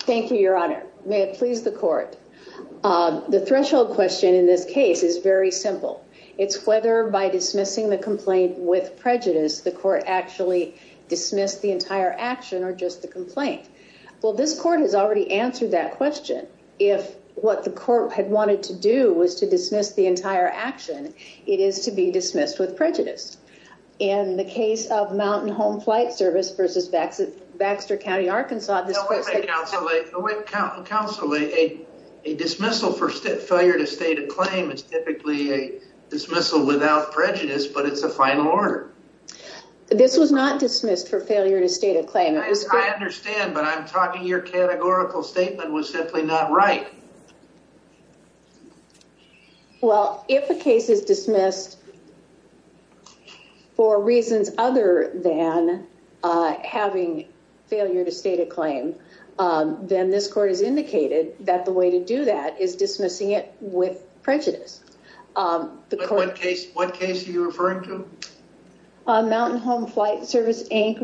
Thank you, Your Honor. May it please the court. The threshold question in this case is very simple. It's whether by dismissing the complaint with prejudice the court actually dismissed the entire action or just the complaint. Well, this court has already answered that question. If what the court had wanted to do was to dismiss the entire action, it is to be dismissed with prejudice. In the case of Mountain Home Flight Service v. Baxter County, Arkansas, a dismissal for failure to state a claim is typically a dismissal without prejudice, but it's a final order. This was not dismissed for failure to state a claim. I understand, but I'm talking your categorical statement was simply not right. Well, if a case is dismissed for reasons other than having failure to state a claim, then this court has indicated that the way to do that is dismissing it with prejudice. What case are you referring to? Mountain Home Flight Service v.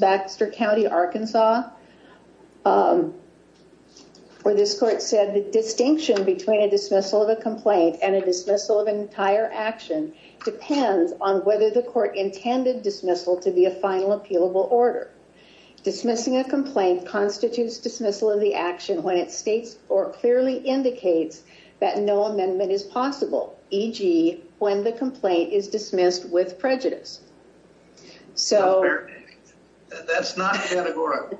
Baxter County, Arkansas, where this court said the distinction between a dismissal of a complaint and a dismissal of an entire action depends on whether the court intended dismissal to be a final appealable order. Dismissing a complaint constitutes dismissal of the action when it states or clearly indicates that no amendment is possible, e.g. when the complaint is dismissed with prejudice. That's not categorical.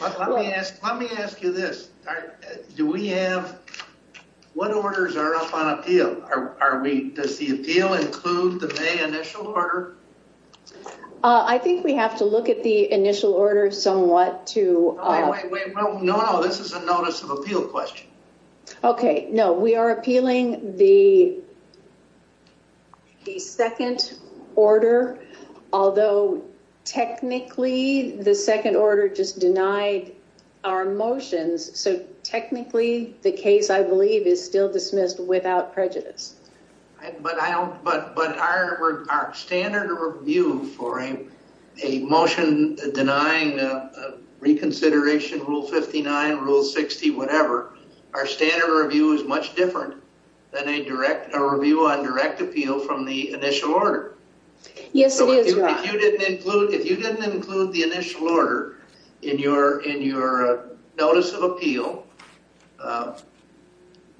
Let me ask you this. What orders are up on appeal? Does the appeal include the May initial order? I think we have to look at the initial order somewhat to... No, no, this is a notice of appeal question. Okay, no, we are appealing the second order, although technically the second order just denied our motions, so technically the case, I believe, is still dismissed without prejudice. But our standard review for a motion denying a reconsideration, Rule 59, Rule 60, whatever, our standard review is much different than a review on direct appeal from the initial order. Yes, it is, Ron. If you didn't include the initial order in your notice of appeal,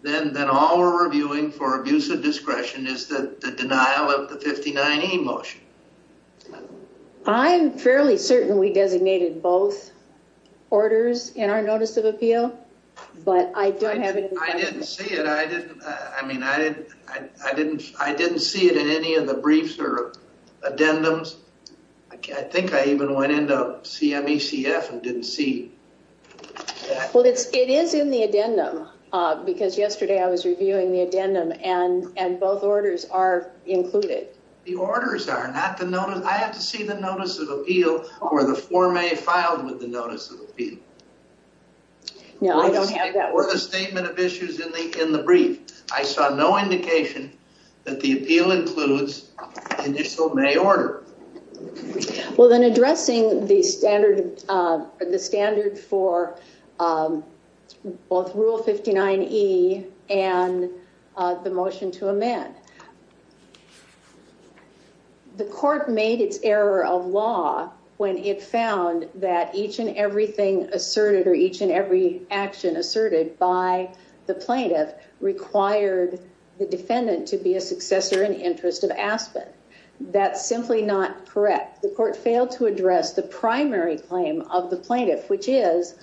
then all we're reviewing for abuse of discretion is the denial of the 59E motion. Okay. I'm fairly certain we designated both orders in our notice of appeal, but I don't have any... I didn't see it. I didn't, I mean, I didn't see it in any of the briefs or addendums. I think I even went into CMECF and didn't see... Well, it is in the addendum, because yesterday I was reviewing the addendum, and both orders are included. The orders are, not the notice. I have to see the notice of appeal or the Form A filed with the notice of appeal. No, I don't have that. Or the statement of issues in the brief. I saw no indication that the appeal includes the initial May order. Well, then addressing the standard for both Rule 59E and the motion to amend. The court made its error of law when it found that each and everything asserted, or each and every action asserted by the plaintiff, required the defendant to be a successor in interest of Aspen. That's simply not correct. The court failed to address the primary claim of the plaintiff, which is,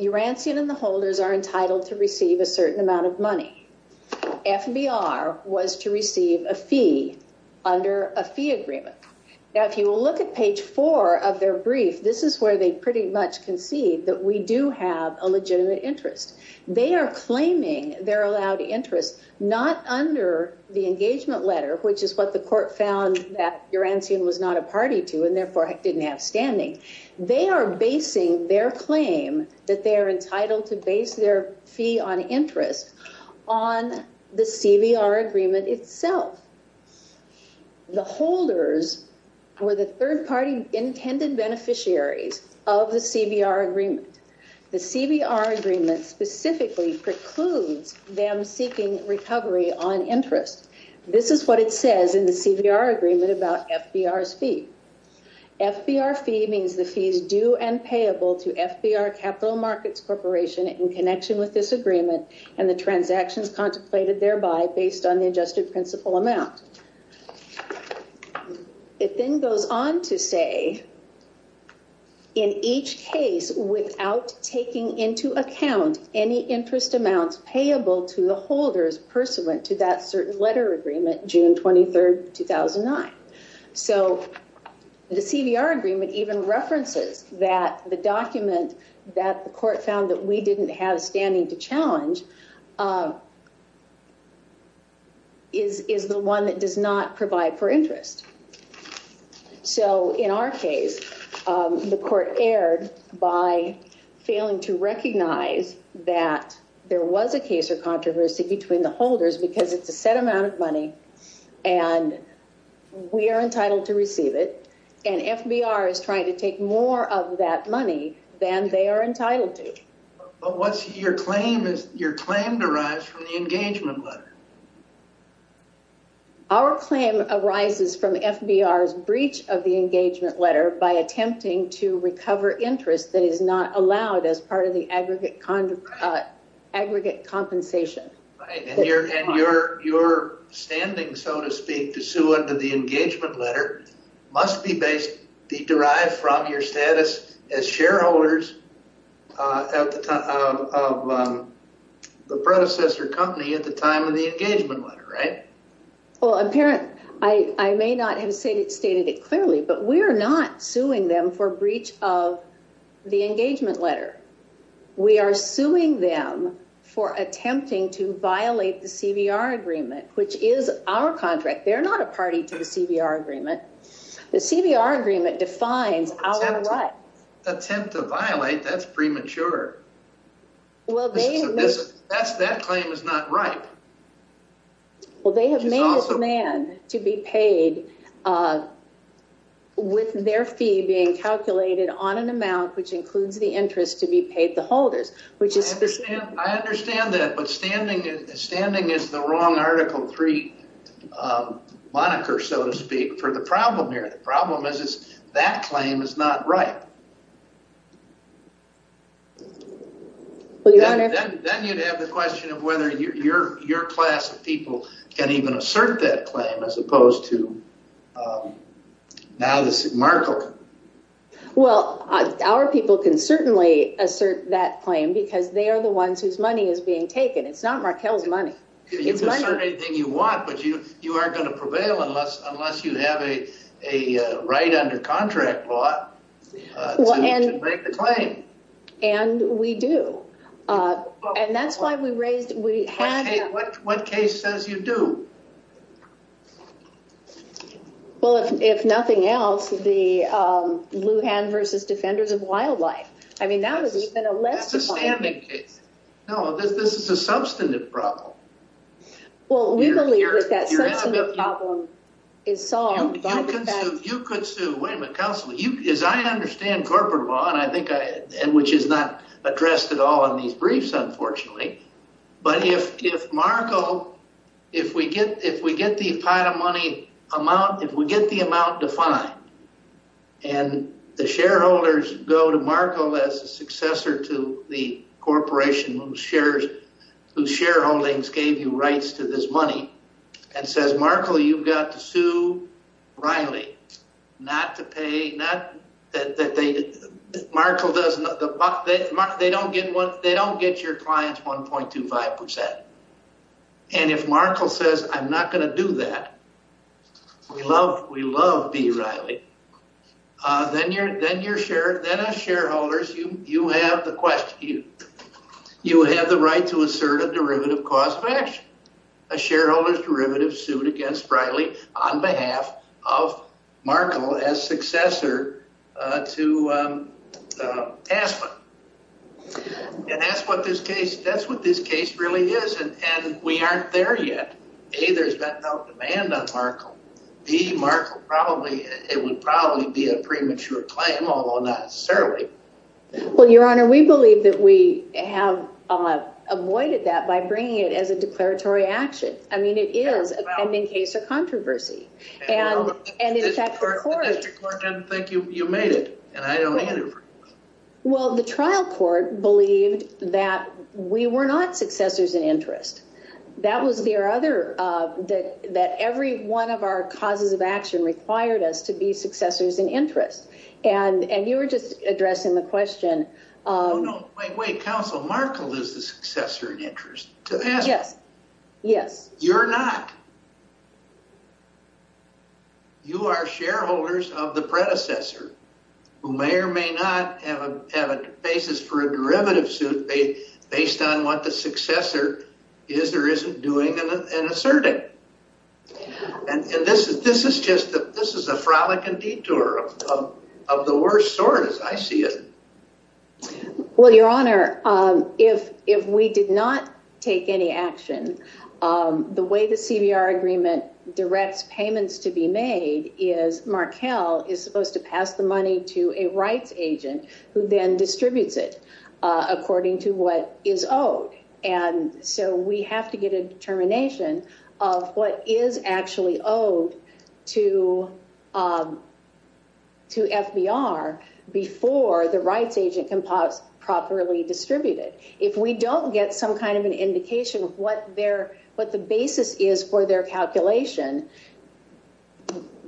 Urancian and the holders are entitled to receive a certain amount of money. FBR was to receive a fee under a fee agreement. Now, if you will look at page four of their brief, this is where they pretty much concede that we do have a legitimate interest. They are claiming their allowed interest, not under the engagement letter, which is what the court found that Urancian was not a party to, and therefore didn't have standing. They are basing their claim that they are entitled to base their fee on interest on the CBR agreement itself. The holders were the third-party intended beneficiaries of the CBR agreement. The CBR agreement specifically precludes them seeking recovery on interest. This is what it says in the CBR agreement about FBR's fee. FBR fee means the fee is due and payable to FBR Capital Markets Corporation in connection with this agreement and the transactions contemplated thereby based on the adjusted principal amount. It then goes on to say, in each case without taking into account any interest amounts payable to the holders pursuant to that certain letter agreement, June 23rd, 2009. So the CBR agreement even references that the document that the court found that we didn't have standing to challenge is the one that does not provide for interest. So in our case, the court erred by failing to recognize that there was a case of controversy between the holders because it's a set amount of money and we are entitled to receive it, and FBR is trying to take more of that money than they are entitled to. But what's your claim? Your claim derives from the engagement letter. Our claim arises from FBR's breach of the engagement letter by attempting to recover interest that is not allowed as part of the aggregate compensation. And your standing, so to speak, to sue under the engagement letter must be derived from your status as shareholders at the time of the predecessor company at the time of the engagement letter, right? Well, I may not have stated it clearly, but we are not suing them for breach of the engagement letter. We are suing them for attempting to violate the CBR agreement, which is our contract. They're not a party to the CBR agreement. The CBR agreement defines our rights. Attempt to violate? That's premature. That claim is not ripe. Well, they have made a demand to be paid with their fee being calculated on an amount which includes the interest to be paid the holders. I understand that, but standing is the wrong Article 3 moniker, so to speak, for the problem here. The problem is that claim is not ripe. Then you'd have the question of whether your class of people can even assert that claim as opposed to now this Markel. Well, our people can certainly assert that claim because they are the ones whose money is being taken. It's not Markel's money. You can assert anything you want, but you aren't going to prevail unless you have a right under contract law to make the claim. And we do. What case says you do? Well, if nothing else, the Lujan v. Defenders of Wildlife. No, this is a substantive problem. Well, we believe that that problem is solved. You could sue. As I understand corporate law, which is not addressed at all in these briefs, unfortunately, but if Markel, if we get the amount defined and the shareholders go to Markel as a successor to the corporation whose shareholdings gave you rights to this money and says, Markel, you've got to sue Reilly not to pay, not that they, Markel doesn't, they don't get your clients 1.25%. And if Markel says, I'm not going to do that, we love B. Reilly, then as shareholders, you have the right to assert a derivative cost of action. A shareholder's derivative sued against Reilly on behalf of Markel as successor to Aspen. And that's what this case really is. And we aren't there yet. A, there's been no demand on Markel. B, Markel probably, it would probably be a premature claim, although not necessarily. Well, Your Honor, we believe that we have avoided that by bringing it as a declaratory action. I mean, it is a pending case of controversy. And the district court doesn't think you made it. And I don't either. Well, the trial court believed that we were not successors in interest. That was their other, that every one of our causes of action required us to be successors in interest. And, and you were just addressing the question. Oh no, wait, wait. Counsel, Markel is the successor in interest to Aspen. Yes, yes. You're not. You are shareholders of the predecessor who may or may not have a basis for a derivative suit based on what the successor is or isn't doing and asserting. And this is, this is just, this is a frolicking detour of the worst sort, as I see it. Well, Your Honor, if, if we did not take any action, the way the CBR agreement directs payments to be made is Markel is supposed to pass the money to a rights agent who then distributes it according to what is owed. And so we have to get a determination of what is actually owed to, to FBR before the rights agent can properly distribute it. If we don't get some kind of an indication of what their, what the basis is for their calculation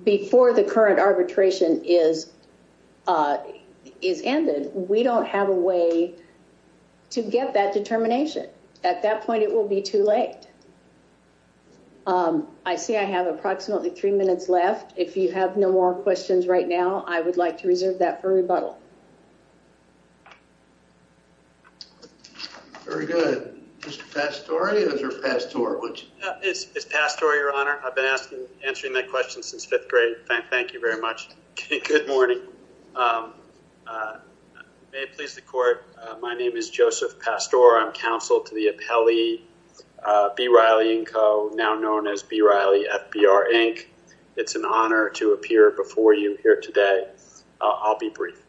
before the current arbitration is, is ended, we don't have a way to get that determination. At that point, it will be too late. I see I have approximately three minutes left. If you have no more questions right now, I would like to reserve that for rebuttal. Very good. Mr. Pastore, Mr. Pastore, would you? It's Pastore, Your Honor. I've been asking, answering that question since fifth grade. Thank you very much. Good morning. May it please the court. My name is Joseph Pastore. I'm counsel to the appellee, B. Riley & Co., now known as B. Riley FBR, Inc. It's an honor to appear before you here today. I'll be brief.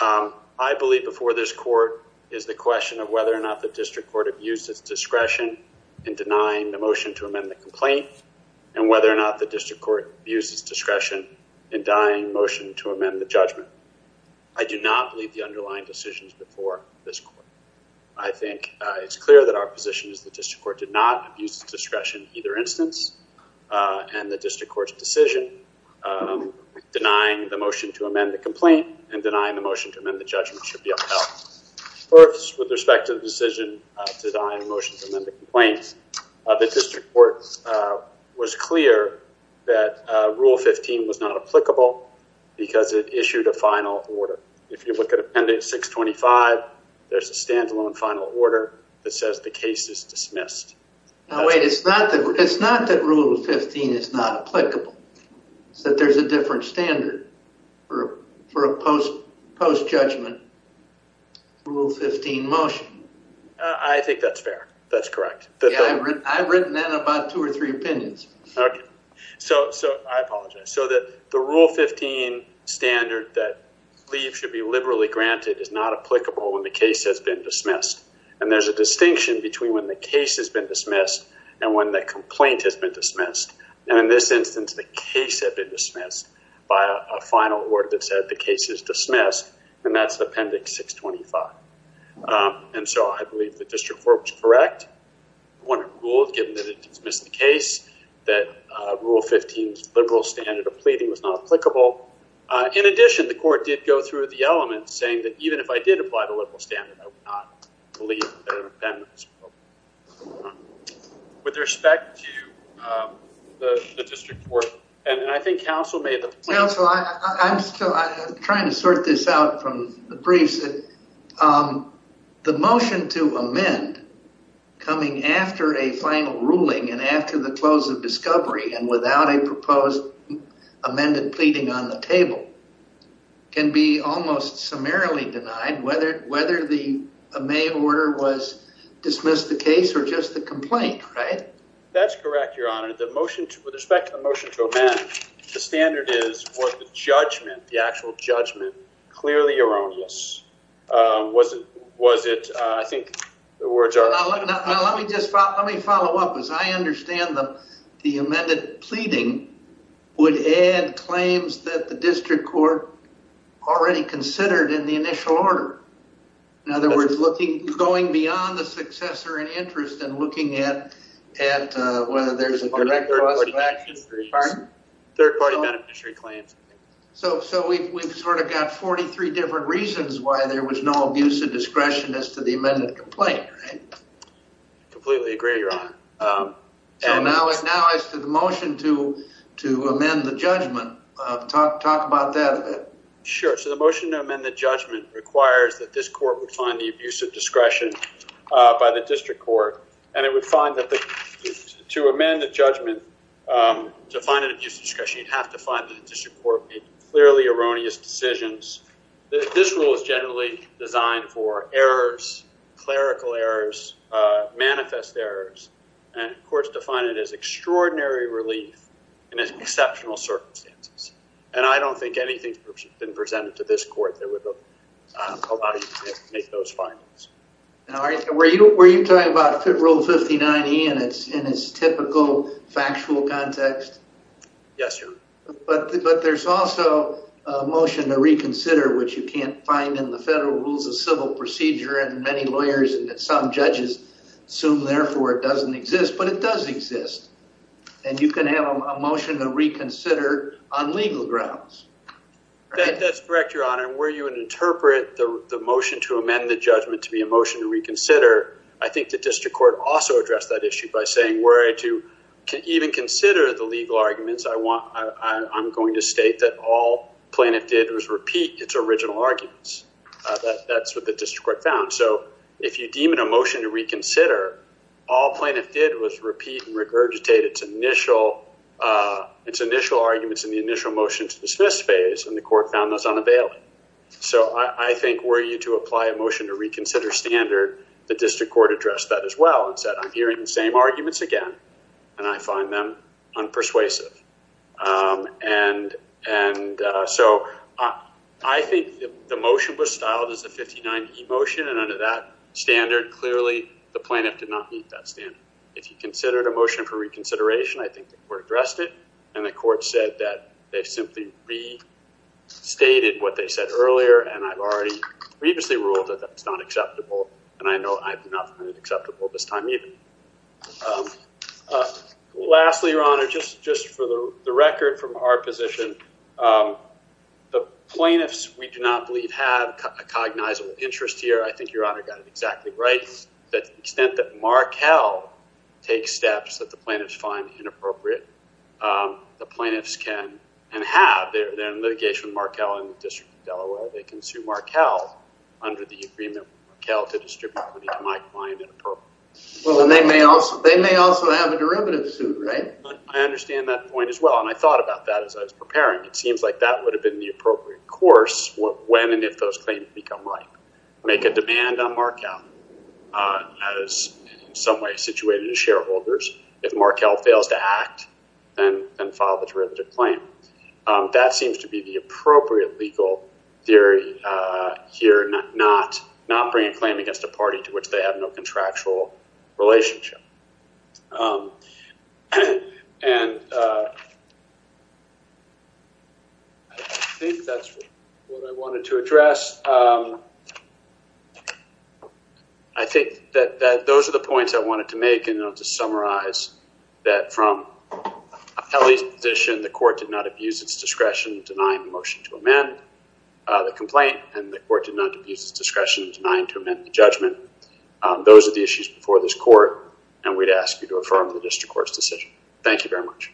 I believe before this court is the question of whether or not the district court have used its discretion in denying the motion to amend the complaint. And whether or not the district court used its discretion in denying motion to amend the judgment. I do not believe the underlying decisions before this court. I think it's clear that our position is the district court did not abuse the discretion either instance and the district court's decision denying the motion to amend the complaint and denying the motion to amend the judgment should be upheld. First, with respect to the decision to deny the motion to amend the complaint, the district court was clear that Rule 15 was not applicable because it issued a final order. If you look at Appendix 625, there's a standalone final order that says the case is dismissed. Now, wait, it's not that Rule 15 is not applicable. It's that there's a different standard for a post-judgment Rule 15 motion. I think that's fair. That's correct. I've written down about two or three opinions. Okay, so I apologize. So that the Rule 15 standard that leave should be liberally granted is not applicable when the case has been dismissed. And there's a distinction between when the case has been dismissed and when the complaint has been dismissed. And in this instance, the case had been dismissed by a final order that said the case is dismissed and that's Appendix 625. And so I believe the district court was correct. I want to rule, given that it dismissed the case, that Rule 15's liberal standard of pleading was not applicable. In addition, the court did go through the elements saying that even if I did apply the liberal standard, I would not believe that an appendix was applicable. With respect to the district court, and I think counsel made the point. Counsel, I'm still trying to sort this out from the briefs. The motion to amend coming after a final ruling and after the close of discovery and without a proposed amended pleading on the table can be almost summarily denied whether the May order was dismissed the case or just the complaint, right? That's correct, Your Honor. The motion, with respect to the motion to amend, the standard is for the judgment, the was it, was it, I think the words are. Now, let me just, let me follow up. As I understand them, the amended pleading would add claims that the district court already considered in the initial order. In other words, looking, going beyond the successor in interest and looking at, at whether there's a direct third party beneficiary claims. So, so we've, we've sort of got 43 different reasons why there was no abuse of discretion as to the amended complaint, right? Completely agree, Your Honor. So now, now as to the motion to, to amend the judgment, talk, talk about that a bit. Sure. So the motion to amend the judgment requires that this court would find the abuse of discretion by the district court and it would find that the, to amend the judgment, to find an abuse of discretion, you'd have to find that the district court made clearly erroneous decisions. This rule is generally designed for errors, clerical errors, manifest errors, and courts define it as extraordinary relief in exceptional circumstances. And I don't think anything's been presented to this court that would allow you to make those findings. Were you, were you talking about rule 5090 and it's in its typical factual context? Yes, Your Honor. But, but there's also a motion to reconsider, which you can't find in the federal rules of civil procedure and many lawyers and some judges assume therefore it doesn't exist, but it does exist. And you can have a motion to reconsider on legal grounds. That's correct, Your Honor. Where you would interpret the motion to amend the judgment to be a motion to reconsider, I think the district court also addressed that issue by saying, were I to even consider the legal arguments, I want, I'm going to state that all plaintiff did was repeat its original arguments. That's what the district court found. So if you deem it a motion to reconsider, all plaintiff did was repeat and regurgitate its initial, its initial arguments in the initial motion to dismiss phase and the court found those unavailable. So I think were you to apply a motion to reconsider standard, the district court addressed that as well and said, I'm hearing the same arguments again and I find them unpersuasive. And, and so I think the motion was styled as a 59E motion and under that standard, clearly the plaintiff did not meet that standard. If you considered a motion for reconsideration, I think the court addressed it and the court said that they simply restated what they said earlier. And I've already previously ruled that that's not acceptable. And I know I'm not acceptable this time either. Lastly, your honor, just, just for the record from our position, the plaintiffs, we do not believe have a cognizable interest here. I think your honor got it exactly right. That extent that Markel takes steps that the plaintiffs find inappropriate. The plaintiffs can, and have, they're in litigation with Markel in the district of Delaware. They can sue Markel under the agreement with Markel to distribute money to my client in appropriate. Well, and they may also, they may also have a derivative suit, right? I understand that point as well. And I thought about that as I was preparing. It seems like that would have been the appropriate course when, and if those claims become ripe, make a demand on Markel as in some way situated to shareholders. If Markel fails to act, then file the derivative claim. That seems to be the appropriate legal theory here, not, not bringing a claim against a party to which they have no contractual relationship. And I think that's what I wanted to address. I think that those are the points I wanted to make, and I'll just summarize that from appellee's position, the court did not abuse its discretion in denying the motion to amend the complaint, and the court did not abuse its discretion in denying to amend the judgment. Those are the issues before this court, and we'd ask you to affirm the district court's decision. Thank you very much.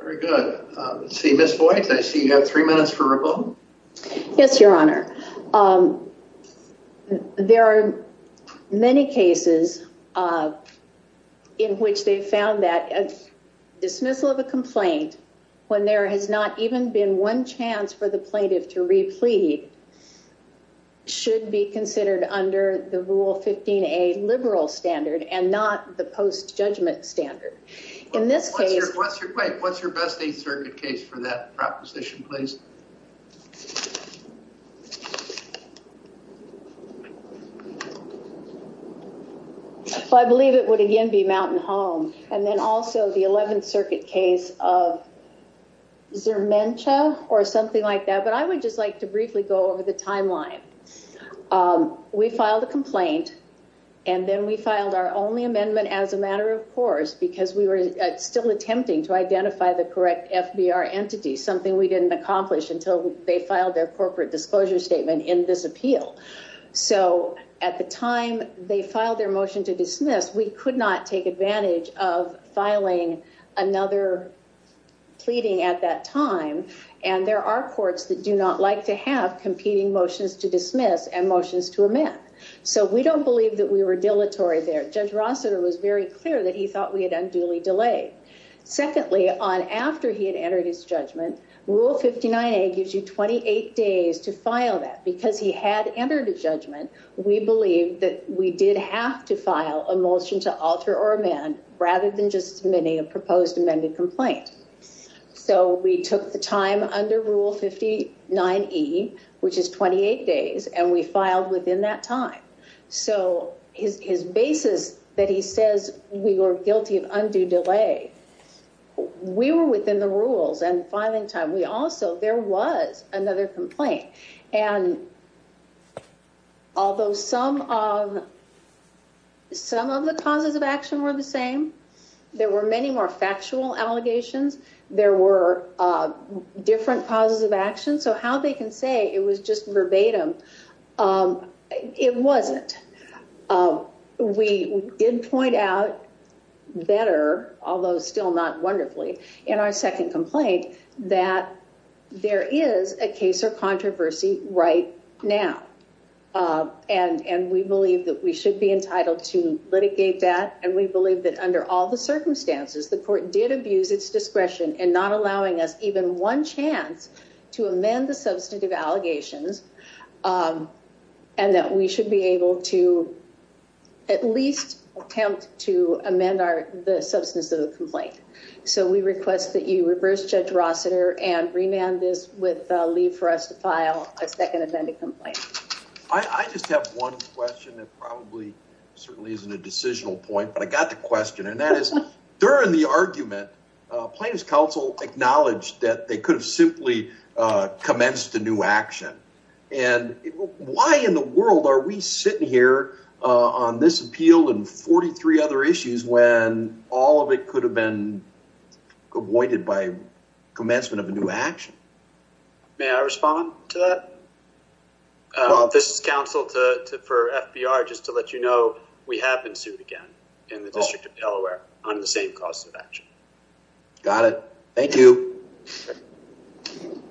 Very good. Let's see, Ms. Voigt, I see you have three minutes left. Yes, Your Honor. There are many cases in which they found that dismissal of a complaint when there has not even been one chance for the plaintiff to replete should be considered under the rule 15A liberal standard and not the post judgment standard. In this case, what's your best case for that proposition, please? I believe it would again be Mountain Home, and then also the 11th Circuit case of Zermenta or something like that, but I would just like to briefly go over the timeline. We filed a complaint, and then we filed our only amendment as a matter of course, because we were still attempting to identify the correct FBR entity, something we didn't accomplish until they filed their corporate disclosure statement in this appeal. So at the time they filed their motion to dismiss, we could not take advantage of filing another pleading at that time, and there are courts that do not like to have competing motions to dismiss and motions to amend. So we don't believe that we were dilatory there. Judge Rossiter was very clear that he thought we had unduly delayed. Secondly, on after he had entered his judgment, Rule 59A gives you 28 days to file that. Because he had entered a judgment, we believe that we did have to file a motion to alter or amend rather than just submitting a proposed amended complaint. So we took the time under Rule 59E, which is 28 days, and we filed within that time. So his basis that he says we were guilty of undue delay, we were within the rules and filing time. We also, there was another complaint. And although some of the causes of action were the same, there were many more factual allegations, there were different causes of action. So how they can say it was just verbatim. It wasn't. We did point out better, although still not wonderfully, in our second complaint that there is a case or controversy right now. And we believe that we should be entitled to litigate that. And we believe that under all the circumstances, the court did abuse its discretion in not and that we should be able to at least attempt to amend the substance of the complaint. So we request that you reverse Judge Rossiter and remand this with leave for us to file a second amended complaint. I just have one question that probably certainly isn't a decisional point, but I got the question. And that is during the argument, plaintiff's counsel acknowledged that they could have simply commenced a new action. And why in the world are we sitting here on this appeal and 43 other issues when all of it could have been avoided by commencement of a new action? May I respond to that? This is counsel for FBR, just to let you know, we have been sued again in the District of Delaware on the same cause of action. Got it. Thank you. Thank you.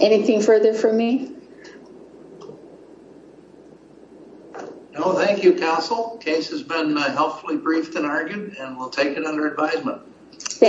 Anything further for me? No, thank you, counsel. Case has been helpfully briefed and argued and we'll take it under advisement. Thank you.